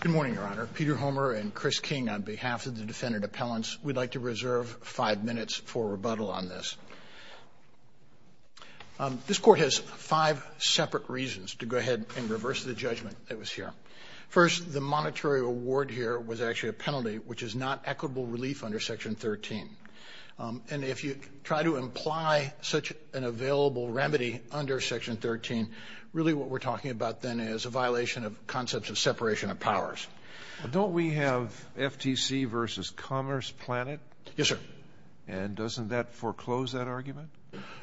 Good morning, Your Honor. Peter Homer and Chris King on behalf of the defendant appellants. We'd like to reserve five minutes for rebuttal on this. This court has five separate reasons to go ahead and reverse the judgment that was here. First, the monetary award here was actually a penalty, which is not equitable relief under Section 13. And if you try to imply such an available remedy under Section 13, really what we're talking about then is a violation of concepts of separation of powers. Don't we have FTC v. Commerce Planet? Yes, sir. And doesn't that foreclose that argument?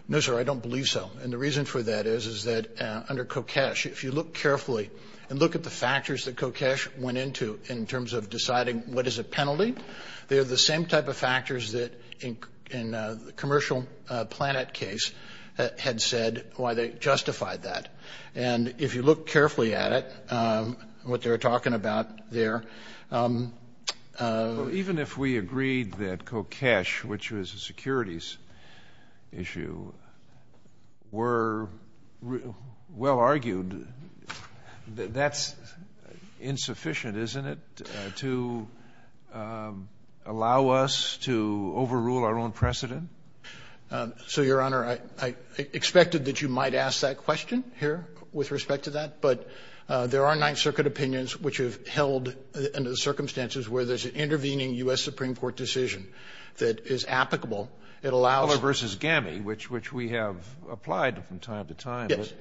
No, sir, I don't believe so. And the reason for that is, is that under Kokesh, if you look carefully and look at the factors that Kokesh went into in terms of deciding what is a penalty, they are the same type of factors that in the Commercial Planet case had said why they justified that. And if you look carefully at it, what they were talking about there, even if we agreed that Kokesh, which was a securities issue, were well argued, that's insufficient, isn't it, to allow us to overrule our own precedent? So, Your Honor, I expected that you might ask that question here with respect to that. But there are Ninth Circuit opinions which have held under the circumstances where there's an intervening U.S. Supreme Court decision that is applicable. It allows you to go ahead and do that. Guller v. GAMI, which we have applied from time to time. Yes.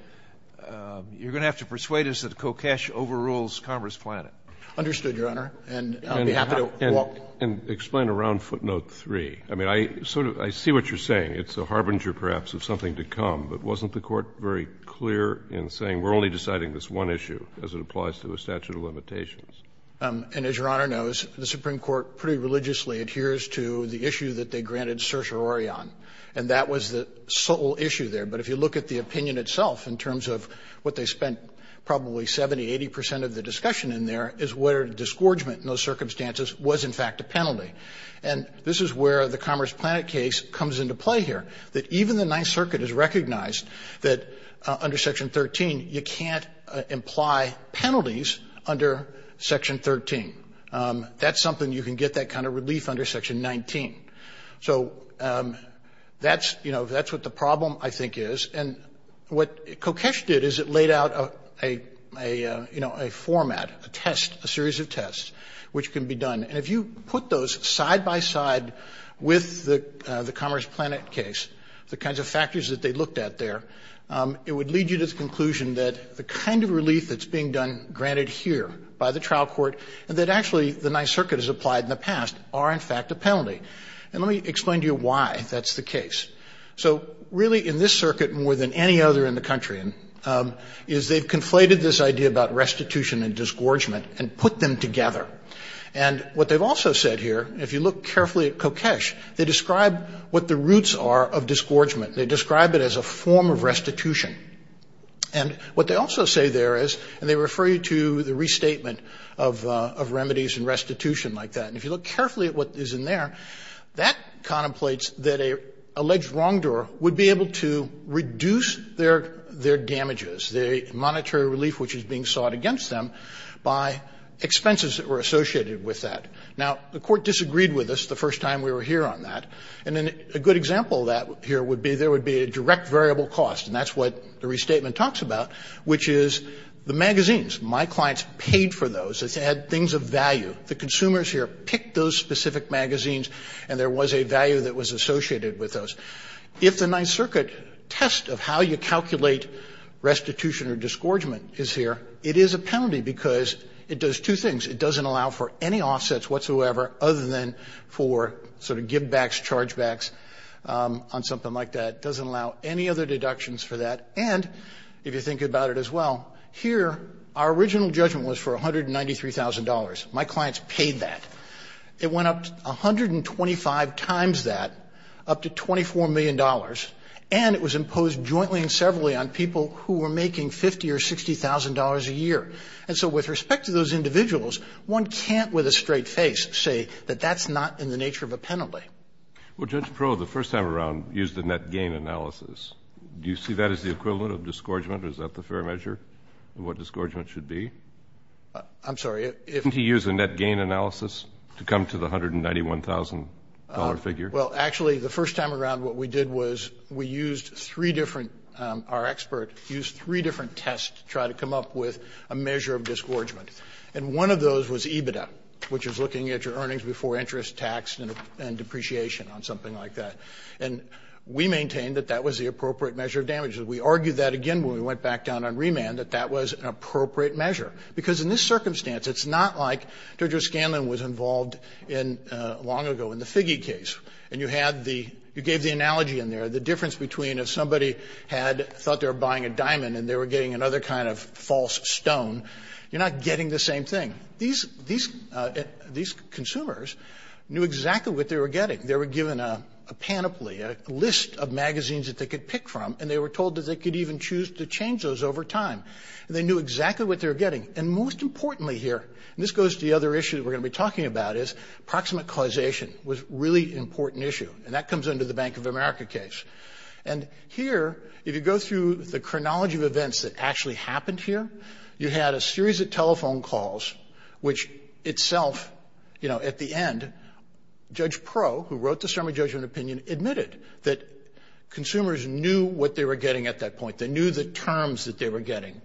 But you're going to have to persuade us that Kokesh overrules Commerce Planet. Understood, Your Honor. And I'll be happy to walk. And explain around footnote 3. I mean, I sort of see what you're saying. It's a harbinger, perhaps, of something to come. But wasn't the Court very clear in saying we're only deciding this one issue as it applies to a statute of limitations? And as Your Honor knows, the Supreme Court pretty religiously adheres to the issue that they granted certiorari on. And that was the sole issue there. But if you look at the opinion itself in terms of what they spent probably 70, 80 percent of the discussion in there is where disgorgement in those circumstances was in fact a penalty. And this is where the Commerce Planet case comes into play here, that even the Ninth Circuit has recognized that under Section 13 you can't imply penalties under Section 13. That's something you can get that kind of relief under Section 19. So that's, you know, that's what the problem I think is. And what Kokesh did is it laid out a, you know, a format, a test, a series of tests which can be done. And if you put those side by side with the Commerce Planet case, the kinds of factors that they looked at there, it would lead you to the conclusion that the kind of relief that's being done granted here by the trial court and that actually the Ninth Circuit has applied in the past are in fact a penalty. And let me explain to you why that's the case. So really in this circuit more than any other in the country is they've conflated this idea about restitution and disgorgement and put them together. And what they've also said here, if you look carefully at Kokesh, they describe what the roots are of disgorgement. They describe it as a form of restitution. And what they also say there is, and they refer you to the restatement of remedies and restitution like that. And if you look carefully at what is in there, that contemplates that an alleged wrongdoer would be able to reduce their damages, the monetary relief which is being sought against them by expenses that were associated with that. Now the court disagreed with us the first time we were here on that. And a good example of that here would be there would be a direct variable cost, and that's what the restatement talks about, which is the magazines. My clients paid for those. It's had things of value. The consumers here picked those specific magazines and there was a value that was associated with those. If the Ninth Circuit test of how you calculate restitution or disgorgement is here, it is a penalty because it does two things. It doesn't allow for any offsets whatsoever other than for sort of givebacks, chargebacks on something like that. It doesn't allow any other deductions for that. And if you think about it as well, here our original judgment was for $193,000. My clients paid that. It went up 125 times that, up to $24 million, and it was imposed jointly and severally on people who were making $50,000 or $60,000 a year. And so with respect to those individuals, one can't with a straight face say that that's not in the nature of a penalty. Well, Judge Pro, the first time around used a net gain analysis. Do you see that as the equivalent of disgorgement? Is that the fair measure of what disgorgement should be? I'm sorry. Didn't he use a net gain analysis to come to the $191,000 figure? Well, actually, the first time around what we did was we used three different – our expert used three different tests to try to come up with a measure of disgorgement. And one of those was EBITDA, which is looking at your earnings before interest, tax, and depreciation on something like that. And we maintained that that was the appropriate measure of damages. We argued that again when we went back down on remand, that that was an appropriate measure, because in this circumstance, it's not like – Judge O'Scanlan was involved in – long ago in the Figge case, and you had the – you gave the analogy in there, the difference between if somebody had – thought they were buying a diamond and they were getting another kind of false stone, you're not getting the same thing. These – these consumers knew exactly what they were getting. They were given a panoply, a list of magazines that they could pick from, and they were told that they could even choose to change those over time. They knew exactly what they were getting. And most importantly here – and this goes to the other issue that we're going to be talking about – is proximate causation was a really important issue, and that comes under the Bank of America case. And here, if you go through the chronology of events that actually happened here, you had a series of telephone calls, which itself, you know, at the end, Judge Pro, who wrote the summary judgment opinion, admitted that consumers knew what they were getting at that point. They knew the terms that they were getting.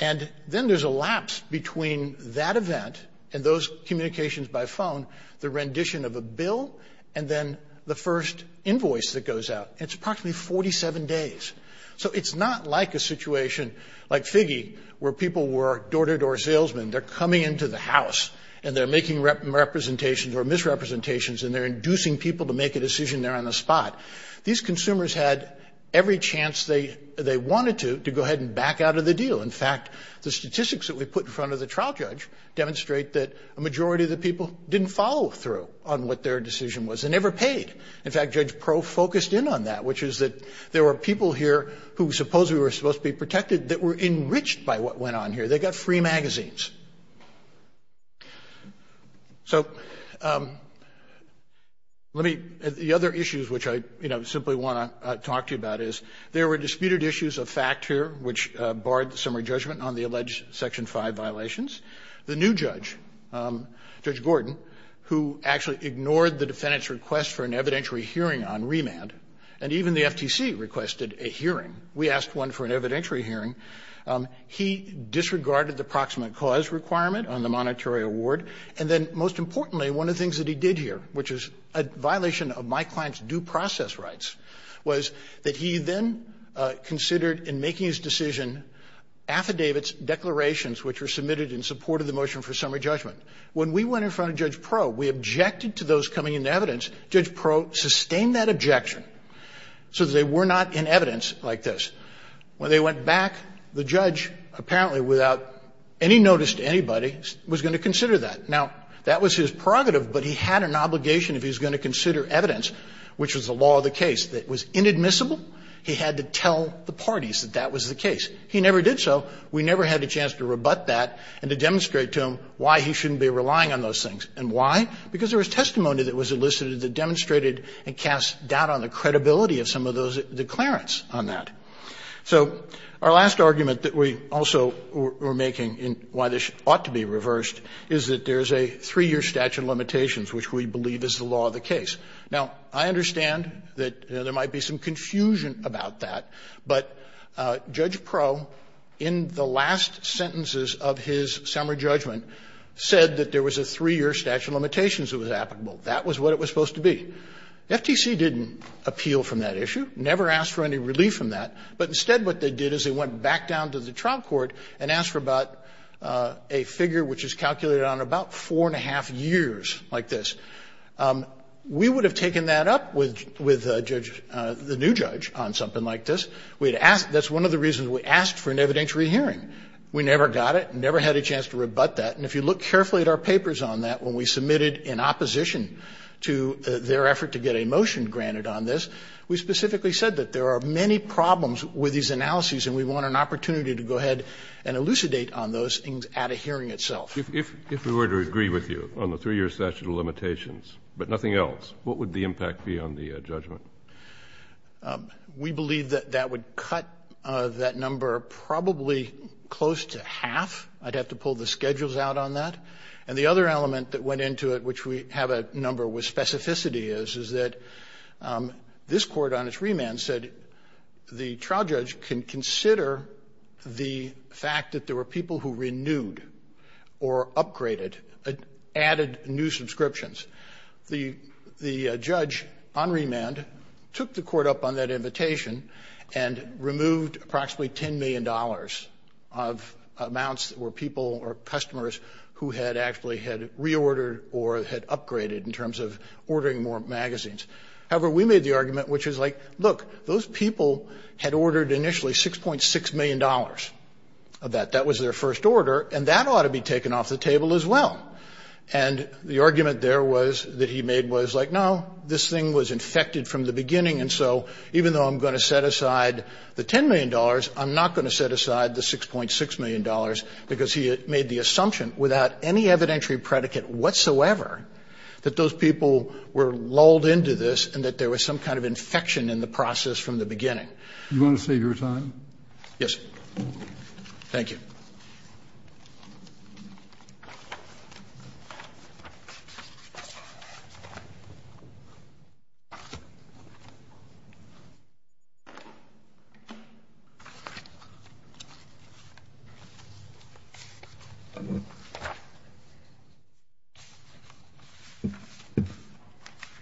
And then there's a lapse between that event and those communications by phone, the rendition of a bill, and then the first invoice that goes out. It's approximately 47 days. So it's not like a situation like Figge, where people were door-to-door salesmen. They're coming into the house, and they're making representations or misrepresentations, and they're inducing people to make a decision there on the spot. These consumers had every chance they wanted to to go ahead and back out of the deal. In fact, the statistics that we put in front of the trial judge demonstrate that a majority of the people didn't follow through on what their decision was and never paid. In fact, Judge Pro focused in on that, which is that there were people here who supposedly were supposed to be protected that were enriched by what went on here. They got free magazines. So, let me, the other issues which I, you know, simply want to talk to you about is, there were disputed issues of fact here, which barred the summary judgment on the alleged Section 5 violations. The new judge, Judge Gordon, who actually ignored the defendant's request for an evidentiary hearing on remand, and even the FTC requested a hearing. We asked one for an evidentiary hearing. He disregarded the proximate cause requirement on the monetary award. And then, most importantly, one of the things that he did here, which is a violation of my client's due process rights, was that he then considered in making his decision affidavits, declarations, which were submitted in support of the motion for summary judgment. When we went in front of Judge Pro, we objected to those coming into evidence. Judge Pro sustained that objection so that they were not in evidence like this. When they went back, the judge, apparently without any notice to anybody, was going to consider that. Now, that was his prerogative, but he had an obligation if he was going to consider evidence, which was the law of the case, that was inadmissible. He had to tell the parties that that was the case. He never did so. We never had a chance to rebut that and to demonstrate to him why he shouldn't be relying on those things. And why? Because there was testimony that was elicited that demonstrated and cast doubt on the credibility of some of those declarants on that. So our last argument that we also were making in why this ought to be reversed is that there is a three-year statute of limitations, which we believe is the law of the case. Now, I understand that there might be some confusion about that, but Judge Pro, in the last sentences of his summary judgment, said that there was a three-year statute of limitations that was applicable. That was what it was supposed to be. The FTC didn't appeal from that issue, never asked for any relief from that. But instead what they did is they went back down to the trial court and asked for about a figure which is calculated on about 4 1⁄2 years like this. We would have taken that up with the judge, the new judge, on something like this. We had asked. That's one of the reasons we asked for an evidentiary hearing. We never got it, never had a chance to rebut that. And if you look carefully at our papers on that, when we submitted in opposition to their effort to get a motion granted on this, we specifically said that there are many problems with these analyses and we want an opportunity to go ahead and elucidate on those things at a hearing itself. Kennedy. If we were to agree with you on the three-year statute of limitations, but nothing else, what would the impact be on the judgment? We believe that that would cut that number probably close to half. I'd have to pull the schedules out on that. And the other element that went into it, which we have a number with specificity is, is that this court on its remand said the trial judge can consider the fact that there were people who renewed or upgraded, added new subscriptions. The judge on remand took the court up on that invitation and removed approximately $10 million of amounts that were people or customers who had actually had reordered or had upgraded in terms of ordering more magazines. However, we made the argument, which is like, look, those people had ordered initially $6.6 million of that. That was their first order, and that ought to be taken off the table as well. And the argument there was, that he made was like, no, this thing was infected from the beginning, and so even though I'm going to set aside the $10 million, I'm not going to set aside the $6.6 million, because he made the assumption without any evidentiary predicate whatsoever that those people were lulled into this and that there was some kind of infection in the process from the beginning. Do you want to save your time? Yes. Thank you.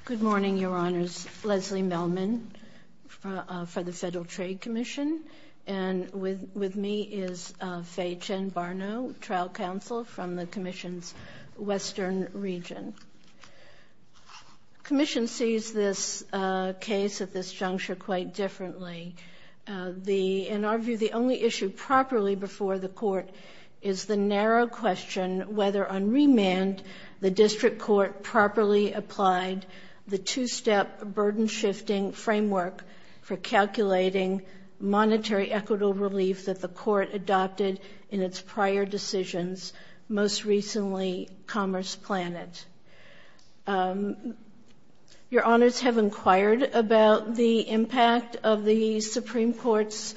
Good morning, Your Honors. Leslie Melman for the Federal Trade Commission. And with me is Faye Chen Barno, Trial Counsel from the Commission's Western Region. Commission sees this case at this juncture quite differently. In our view, the only issue properly before the court is the narrow question whether on remand the district court properly applied the two-step burden shifting framework for calculating monetary equitable relief that the court adopted in its prior decisions, most recently Commerce Planet. Your Honors have inquired about the impact of the Supreme Court's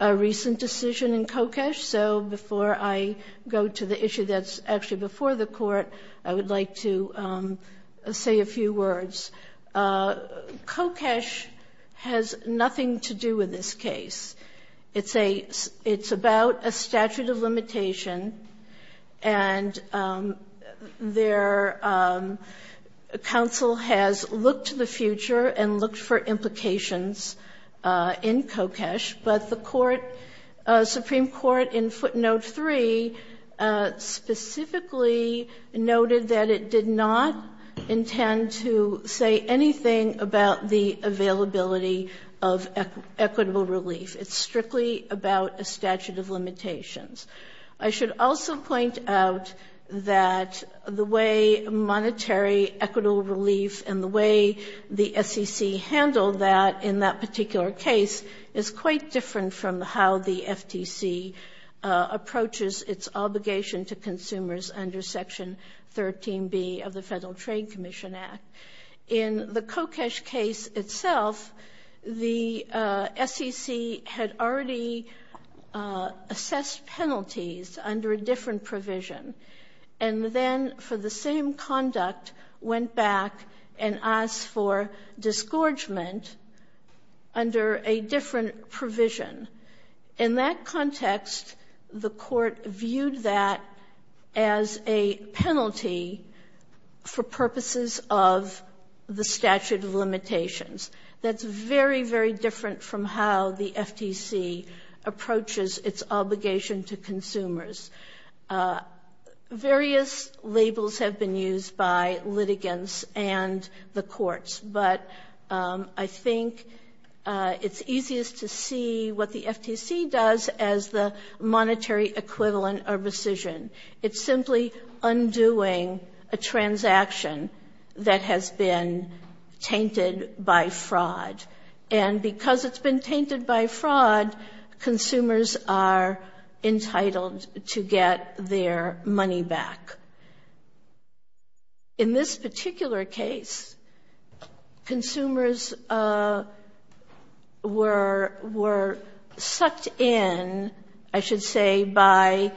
recent decision in Kokesh, so before I go to the issue that's actually before the court, I would like to say a few words. Kokesh has nothing to do with this case. It's a – it's about a statute of limitation, and their counsel has looked to the future and looked for implications in Kokesh, but the court, Supreme Court in footnote three specifically noted that it did not intend to say anything about the availability of equitable relief. It's strictly about a statute of limitations. I should also point out that the way monetary equitable relief and the way the SEC handled that in that particular case is quite different from how the FTC approaches its obligation to consumers under Section 13B of the Federal Trade Commission Act. In the Kokesh case itself, the SEC had already assessed penalties under a different provision and then for the same conduct went back and asked for disgorgement under a different provision. In that context, the court viewed that as a penalty for purposes of the statute of limitations. That's very, very different from how the FTC approaches its obligation to consumers. Various labels have been used by litigants and the courts, but I think it's easiest to see what the FTC does as the monetary equivalent of rescission. It's simply undoing a transaction that has been tainted by fraud. And because it's been tainted by fraud, consumers are entitled to get their money back. In this particular case, consumers were sucked in, I should say, by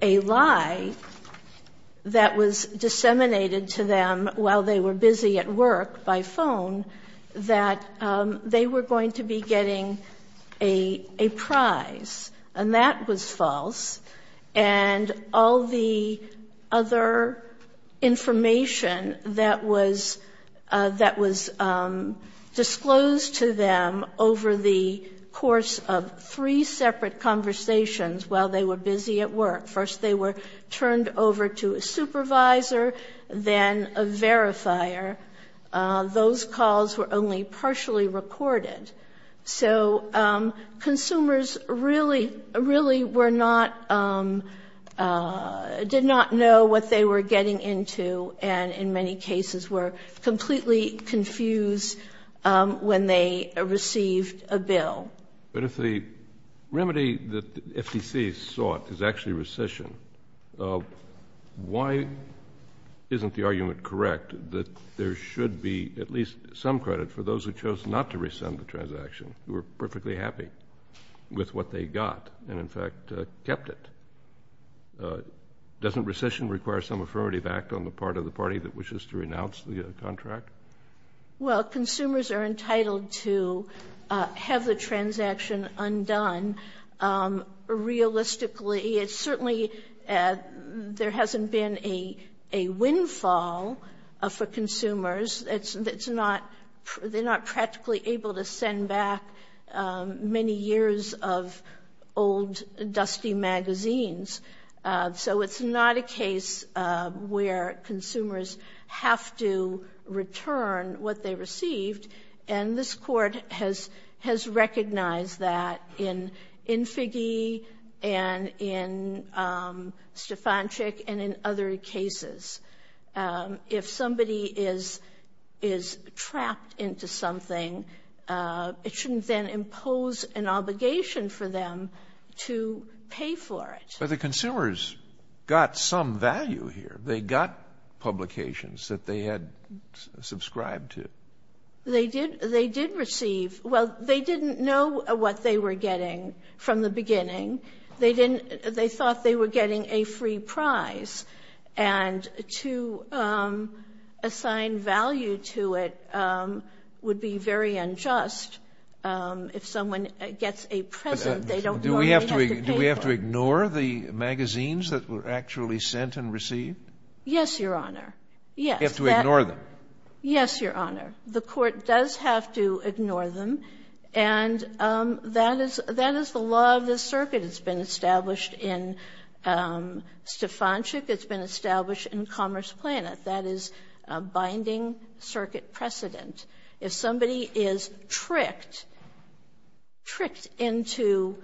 a lie that was disseminated to them while they were busy at work by phone that they were going to be getting a prize. And that was false. And all the other information that was disclosed to them over the course of three separate conversations while they were busy at work. First they were turned over to a supervisor, then a verifier. Those calls were only partially recorded. So consumers really, really were not, did not know what they were getting into and, in many cases, were completely confused when they received a bill. But if the remedy that the FTC sought is actually rescission, why isn't the argument correct that there should be at least some credit for those who chose not to rescind the transaction, who were perfectly happy with what they got and, in fact, kept it? Doesn't rescission require some affirmative act on the part of the party that wishes to renounce the contract? Well, consumers are entitled to have the transaction undone. Realistically, it's certainly, there hasn't been a windfall for consumers. It's not, they're not practically able to send back many years of old, dusty magazines. So it's not a case where consumers have to return what they received. And this court has recognized that in Figge and in Stefanczyk and in other cases. If somebody is trapped into something, it shouldn't then impose an obligation for them to pay for it. But the consumers got some value here. They got publications that they had subscribed to. They did receive, well, they didn't know what they were getting from the beginning. They thought they were getting a free prize. And to assign value to it would be very unjust. If someone gets a present, they don't know what they have to pay for. Do we have to ignore the magazines that were actually sent and received? Yes, Your Honor. Yes. You have to ignore them. Yes, Your Honor. The court does have to ignore them. And that is the law of this circuit. It's been established in Stefanczyk. It's been established in Commerce Planet. That is a binding circuit precedent. If somebody is tricked, tricked into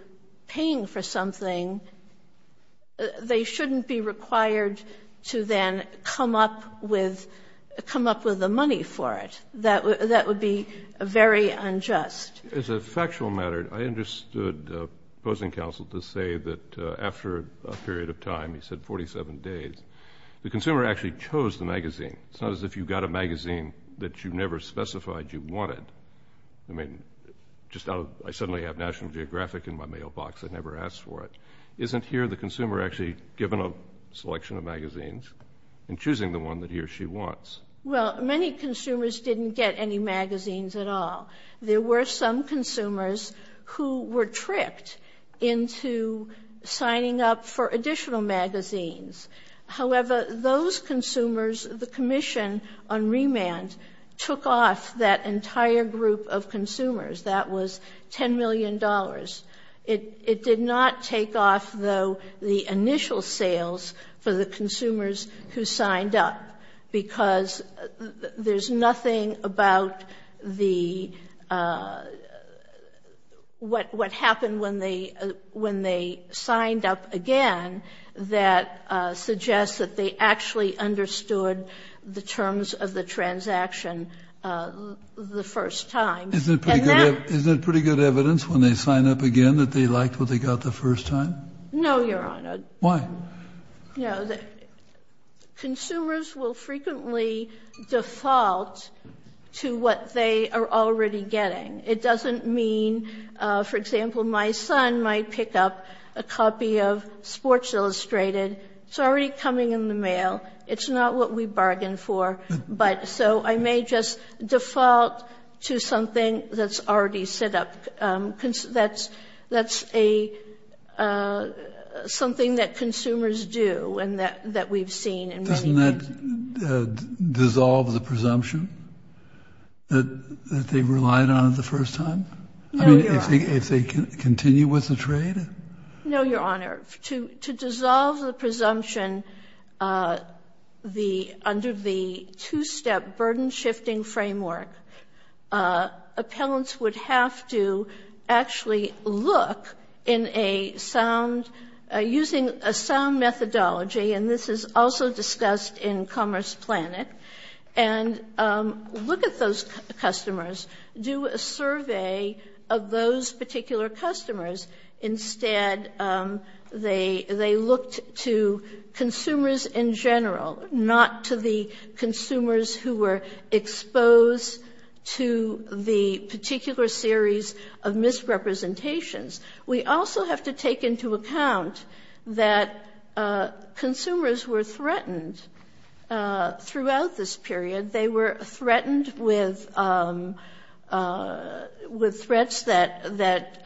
paying for something, they shouldn't be required to then come up with the money for it. That would be very unjust. It's a factual matter. I understood opposing counsel to say that after a period of time, he said 47 days, the consumer actually chose the magazine. It's not as if you got a magazine that you never specified you wanted. I mean, I suddenly have National Geographic in my mailbox. I never asked for it. Isn't here the consumer actually given a selection of magazines and choosing the one that he or she wants? Well, many consumers didn't get any magazines at all. There were some consumers who were tricked into signing up for additional magazines. However, those consumers, the commission on remand took off that entire group of consumers. That was $10 million. It did not take off, though, the initial sales for the consumers who signed up. Because there's nothing about the, what happened when they signed up again, that suggests that they actually understood the terms of the transaction the first time. And that Isn't it pretty good evidence when they sign up again that they liked what they got the first time? No, Your Honor. Why? Consumers will frequently default to what they are already getting. It doesn't mean, for example, my son might pick up a copy of Sports Illustrated. It's already coming in the mail. It's not what we bargained for. But so I may just default to something that's already set up. That's something that consumers do and that we've seen in many ways. Dissolve the presumption that they relied on the first time? No, Your Honor. I mean, if they continue with the trade? No, Your Honor. To dissolve the presumption under the two-step burden-shifting framework, appellants would have to actually look in a sound, using a sound methodology, and this is also discussed in Commerce Planet, and look at those customers, do a survey of those particular customers. Instead, they looked to consumers in general, not to the consumers who were exposed to the particular series of misrepresentations. We also have to take into account that consumers were threatened throughout this period. They were threatened with threats that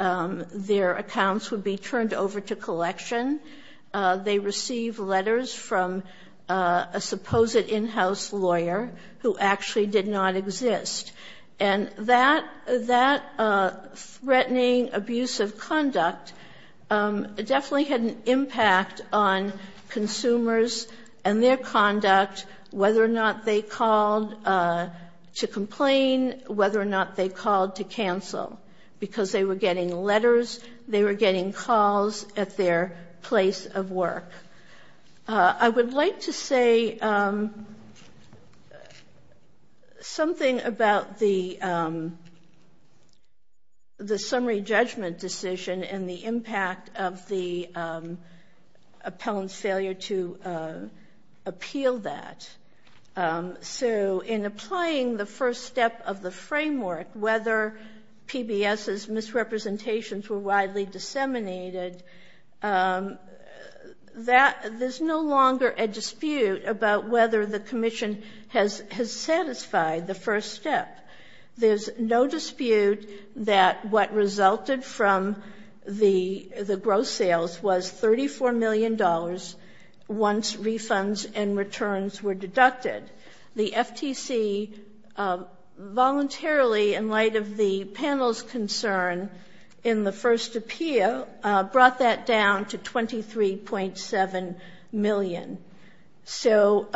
their accounts would be turned over to collection. They received letters from a supposed in-house lawyer who actually did not exist. And that threatening abuse of conduct definitely had an impact on consumers and their conduct, whether or not they called to complain, whether or not they called to cancel, because they were getting letters, they were getting calls at their place of work. I would like to say something about the summary judgment decision and the impact of the appellant's failure to appeal that. So in applying the first step of the framework, whether PBS's misrepresentations were widely disseminated, there's no longer a dispute about whether the commission has satisfied the first step. There's no dispute that what resulted from the gross sales was $34 million once refunds and returns were deducted. The FTC voluntarily, in light of the panel's concern in the first appeal, brought that down to 23.7 million. So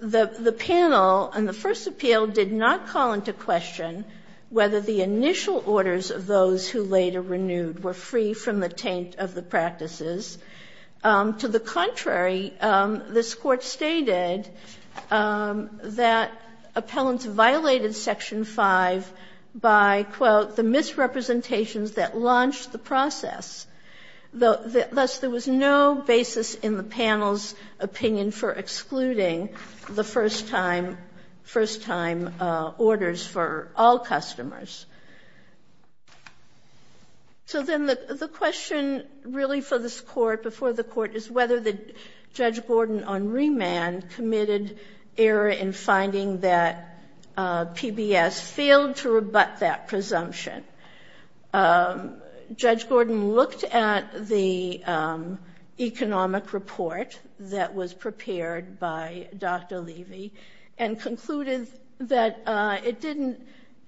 the panel in the first appeal did not call into question whether the initial orders of those who later renewed were free from the taint of the practices. To the contrary, this court stated that appellants violated Section 5 by, quote, the misrepresentations that launched the process, thus there was no basis in the panel's opinion for excluding the first-time orders for all customers. So then the question really for this court, before the court, is whether Judge Gordon on remand committed error in finding that PBS failed to rebut that presumption. Judge Gordon looked at the economic report that was prepared by Dr. Levy and concluded that it didn't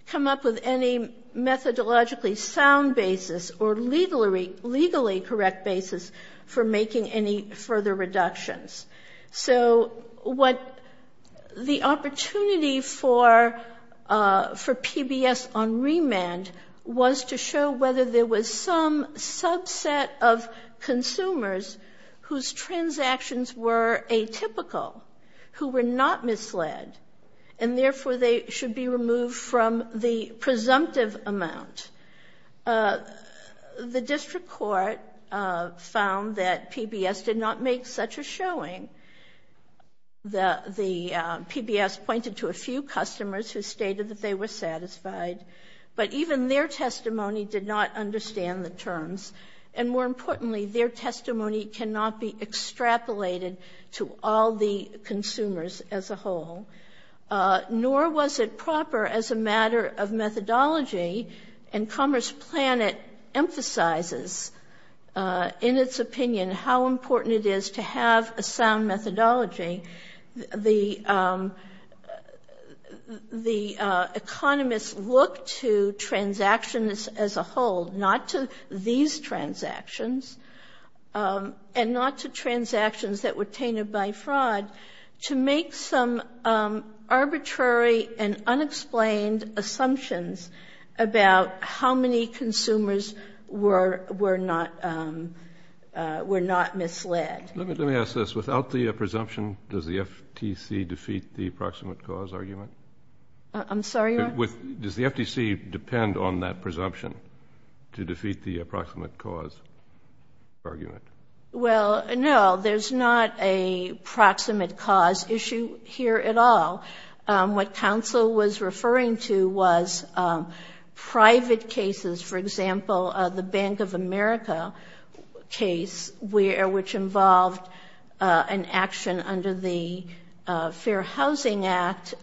come up with any methodologically sound basis or legally correct basis for making any further reductions. So what the opportunity for PBS on remand was to show whether there was some subset of consumers whose transactions were atypical, who were not misled, and therefore they should be removed from the presumptive amount. The district court found that PBS did not make such a showing. The PBS pointed to a few customers who stated that they were satisfied, but even their testimony did not understand the terms. And more importantly, their testimony cannot be extrapolated to all the consumers as a whole, nor was it proper as a matter of methodology. And Commerce Planet emphasizes, in its opinion, how important it is to have a sound methodology. The economists look to transactions as a whole, not to these transactions, and not to transactions that were tainted by fraud, to make some arbitrary and unexplained assumptions about how many consumers were not misled. Let me ask this. Without the presumption, does the FTC defeat the approximate cause argument? I'm sorry? Does the FTC depend on that presumption to defeat the approximate cause argument? Well, no. There's not a proximate cause issue here at all. What counsel was referring to was private cases, for example, the Bank of America case, which involved an action under the Fair Housing Act,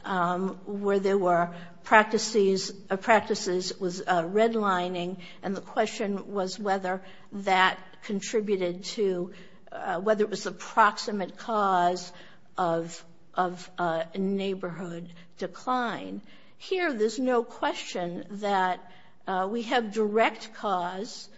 where there were practices, it was redlining, and the question was whether that contributed to, whether it was the proximate cause of a neighborhood decline. Here, there's no question that we have direct cause.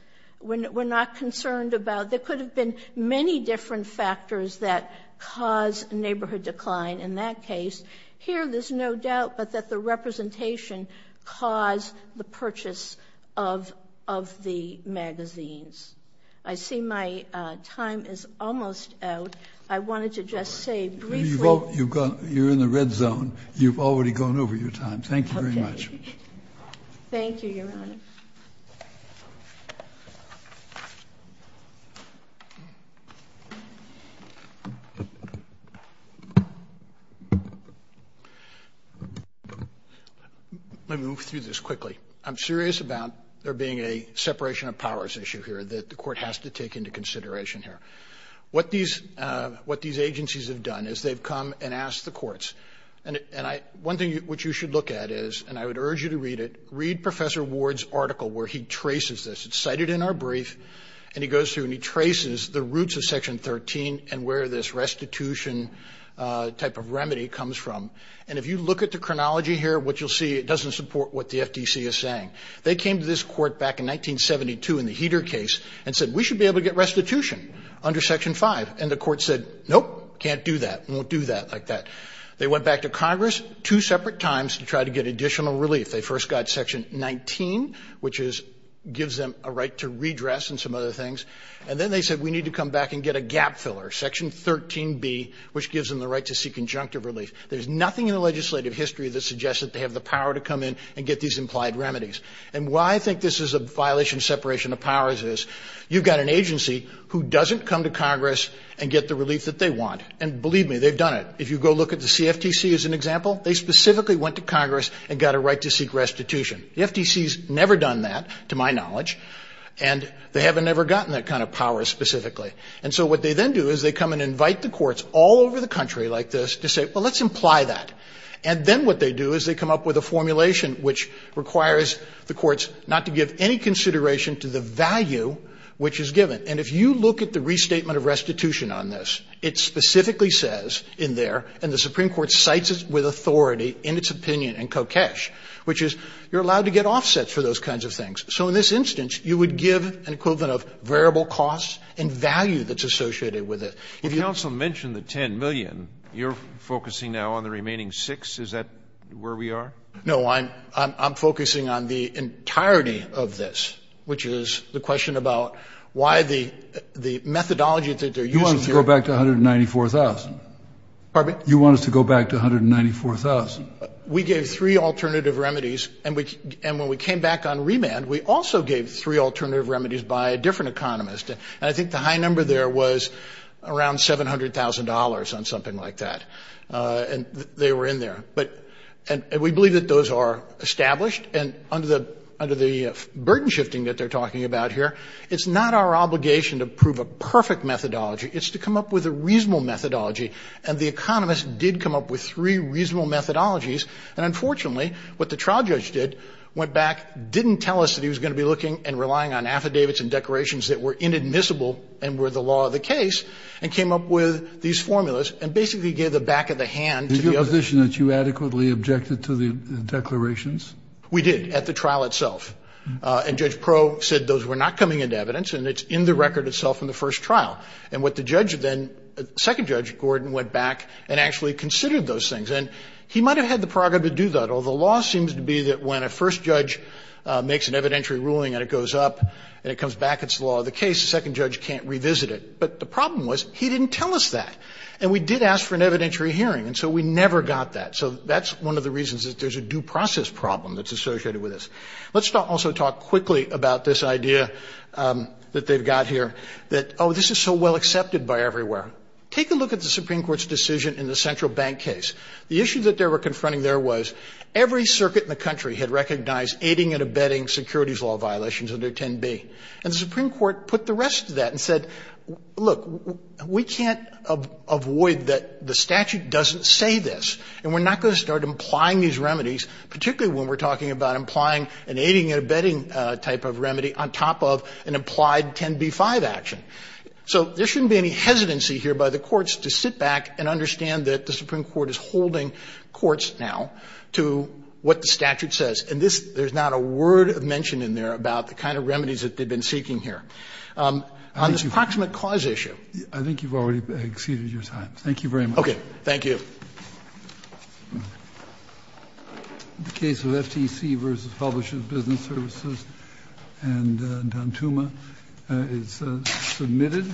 We're not concerned about, there could have been many different factors that cause a neighborhood decline in that case. Here, there's no doubt, but that the representation caused the purchase of the magazines. I see my time is almost out. I wanted to just say briefly. You're in the red zone. You've already gone over your time. Thank you very much. Thank you, Your Honor. Let me move through this quickly. I'm serious about there being a separation of powers issue here that the Court has to take into consideration here. What these agencies have done is they've come and asked the courts, and one thing which you should look at is, and I would urge you to read it, read Professor Ward's article where he traces this. It's cited in our brief, and he goes through and he traces the roots of Section 13 and where this restitution type of remedy comes from. And if you look at the chronology here, what you'll see, it doesn't support what the FDC is saying. They came to this court back in 1972 in the Heater case and said, we should be able to get restitution under Section 5. And the court said, nope, can't do that, won't do that like that. They went back to Congress two separate times to try to get additional relief. They first got Section 19, which gives them a right to redress and some other things. And then they said, we need to come back and get a gap filler, Section 13b, which gives them the right to seek conjunctive relief. There's nothing in the legislative history that suggests that they have the power to come in and get these implied remedies. And why I think this is a violation of separation of powers is you've got an agency who doesn't come to Congress and get the relief that they want. And believe me, they've done it. If you go look at the CFTC as an example, they specifically went to Congress and got a right to seek restitution. The FTC has never done that, to my knowledge, and they haven't ever gotten that kind of power specifically. And so what they then do is they come and invite the courts all over the country like this to say, well, let's imply that. And then what they do is they come up with a formulation which requires the courts not to give any consideration to the value which is given. And if you look at the restatement of restitution on this, it specifically says in there, and the Supreme Court cites it with authority in its opinion in Kokesh, which is you're allowed to get offsets for those kinds of things. So in this instance, you would give an equivalent of variable costs and value that's associated with it. If you also mention the $10 million, you're focusing now on the remaining $6 million. Is that where we are? No. I'm focusing on the entirety of this, which is the question about why the methodology that they're using here. You want us to go back to $194,000? Pardon me? You want us to go back to $194,000? We gave three alternative remedies. And when we came back on remand, we also gave three alternative remedies by a different economist. And I think the high number there was around $700,000 on something like that. And they were in there. But we believe that those are established. And under the burden shifting that they're talking about here, it's not our obligation to prove a perfect methodology. It's to come up with a reasonable methodology. And the economist did come up with three reasonable methodologies. And unfortunately, what the trial judge did, went back, didn't tell us that he was going to be looking and relying on affidavits and declarations that were inadmissible and were the law of the case, and came up with these formulas and basically gave the back of the hand to the others. Is it your position that you adequately objected to the declarations? We did, at the trial itself. And Judge Proh said those were not coming into evidence and it's in the record itself in the first trial. And what the judge then, second judge, Gordon, went back and actually considered those things. And he might have had the prerogative to do that. Although law seems to be that when a first judge makes an evidentiary ruling and it goes up and it comes back, it's the law of the case, the second judge can't revisit it. But the problem was he didn't tell us that. And we did ask for an evidentiary hearing. And so we never got that. So that's one of the reasons that there's a due process problem that's associated with this. Let's also talk quickly about this idea that they've got here that, oh, this is so well accepted by everywhere. Take a look at the Supreme Court's decision in the Central Bank case. The issue that they were confronting there was every circuit in the country had recognized aiding and abetting securities law violations under 10b. And the Supreme Court put the rest of that and said, look, we can't avoid that the statute doesn't say this. And we're not going to start implying these remedies, particularly when we're talking about implying an aiding and abetting type of remedy on top of an implied 10b-5 action. So there shouldn't be any hesitancy here by the courts to sit back and understand that the Supreme Court is holding courts now to what the statute says. And this — there's not a word of mention in there about the kind of remedies that they've been seeking here. On this proximate cause issue. Kennedy, I think you've already exceeded your time. Thank you very much. Okay. Thank you. Submitted.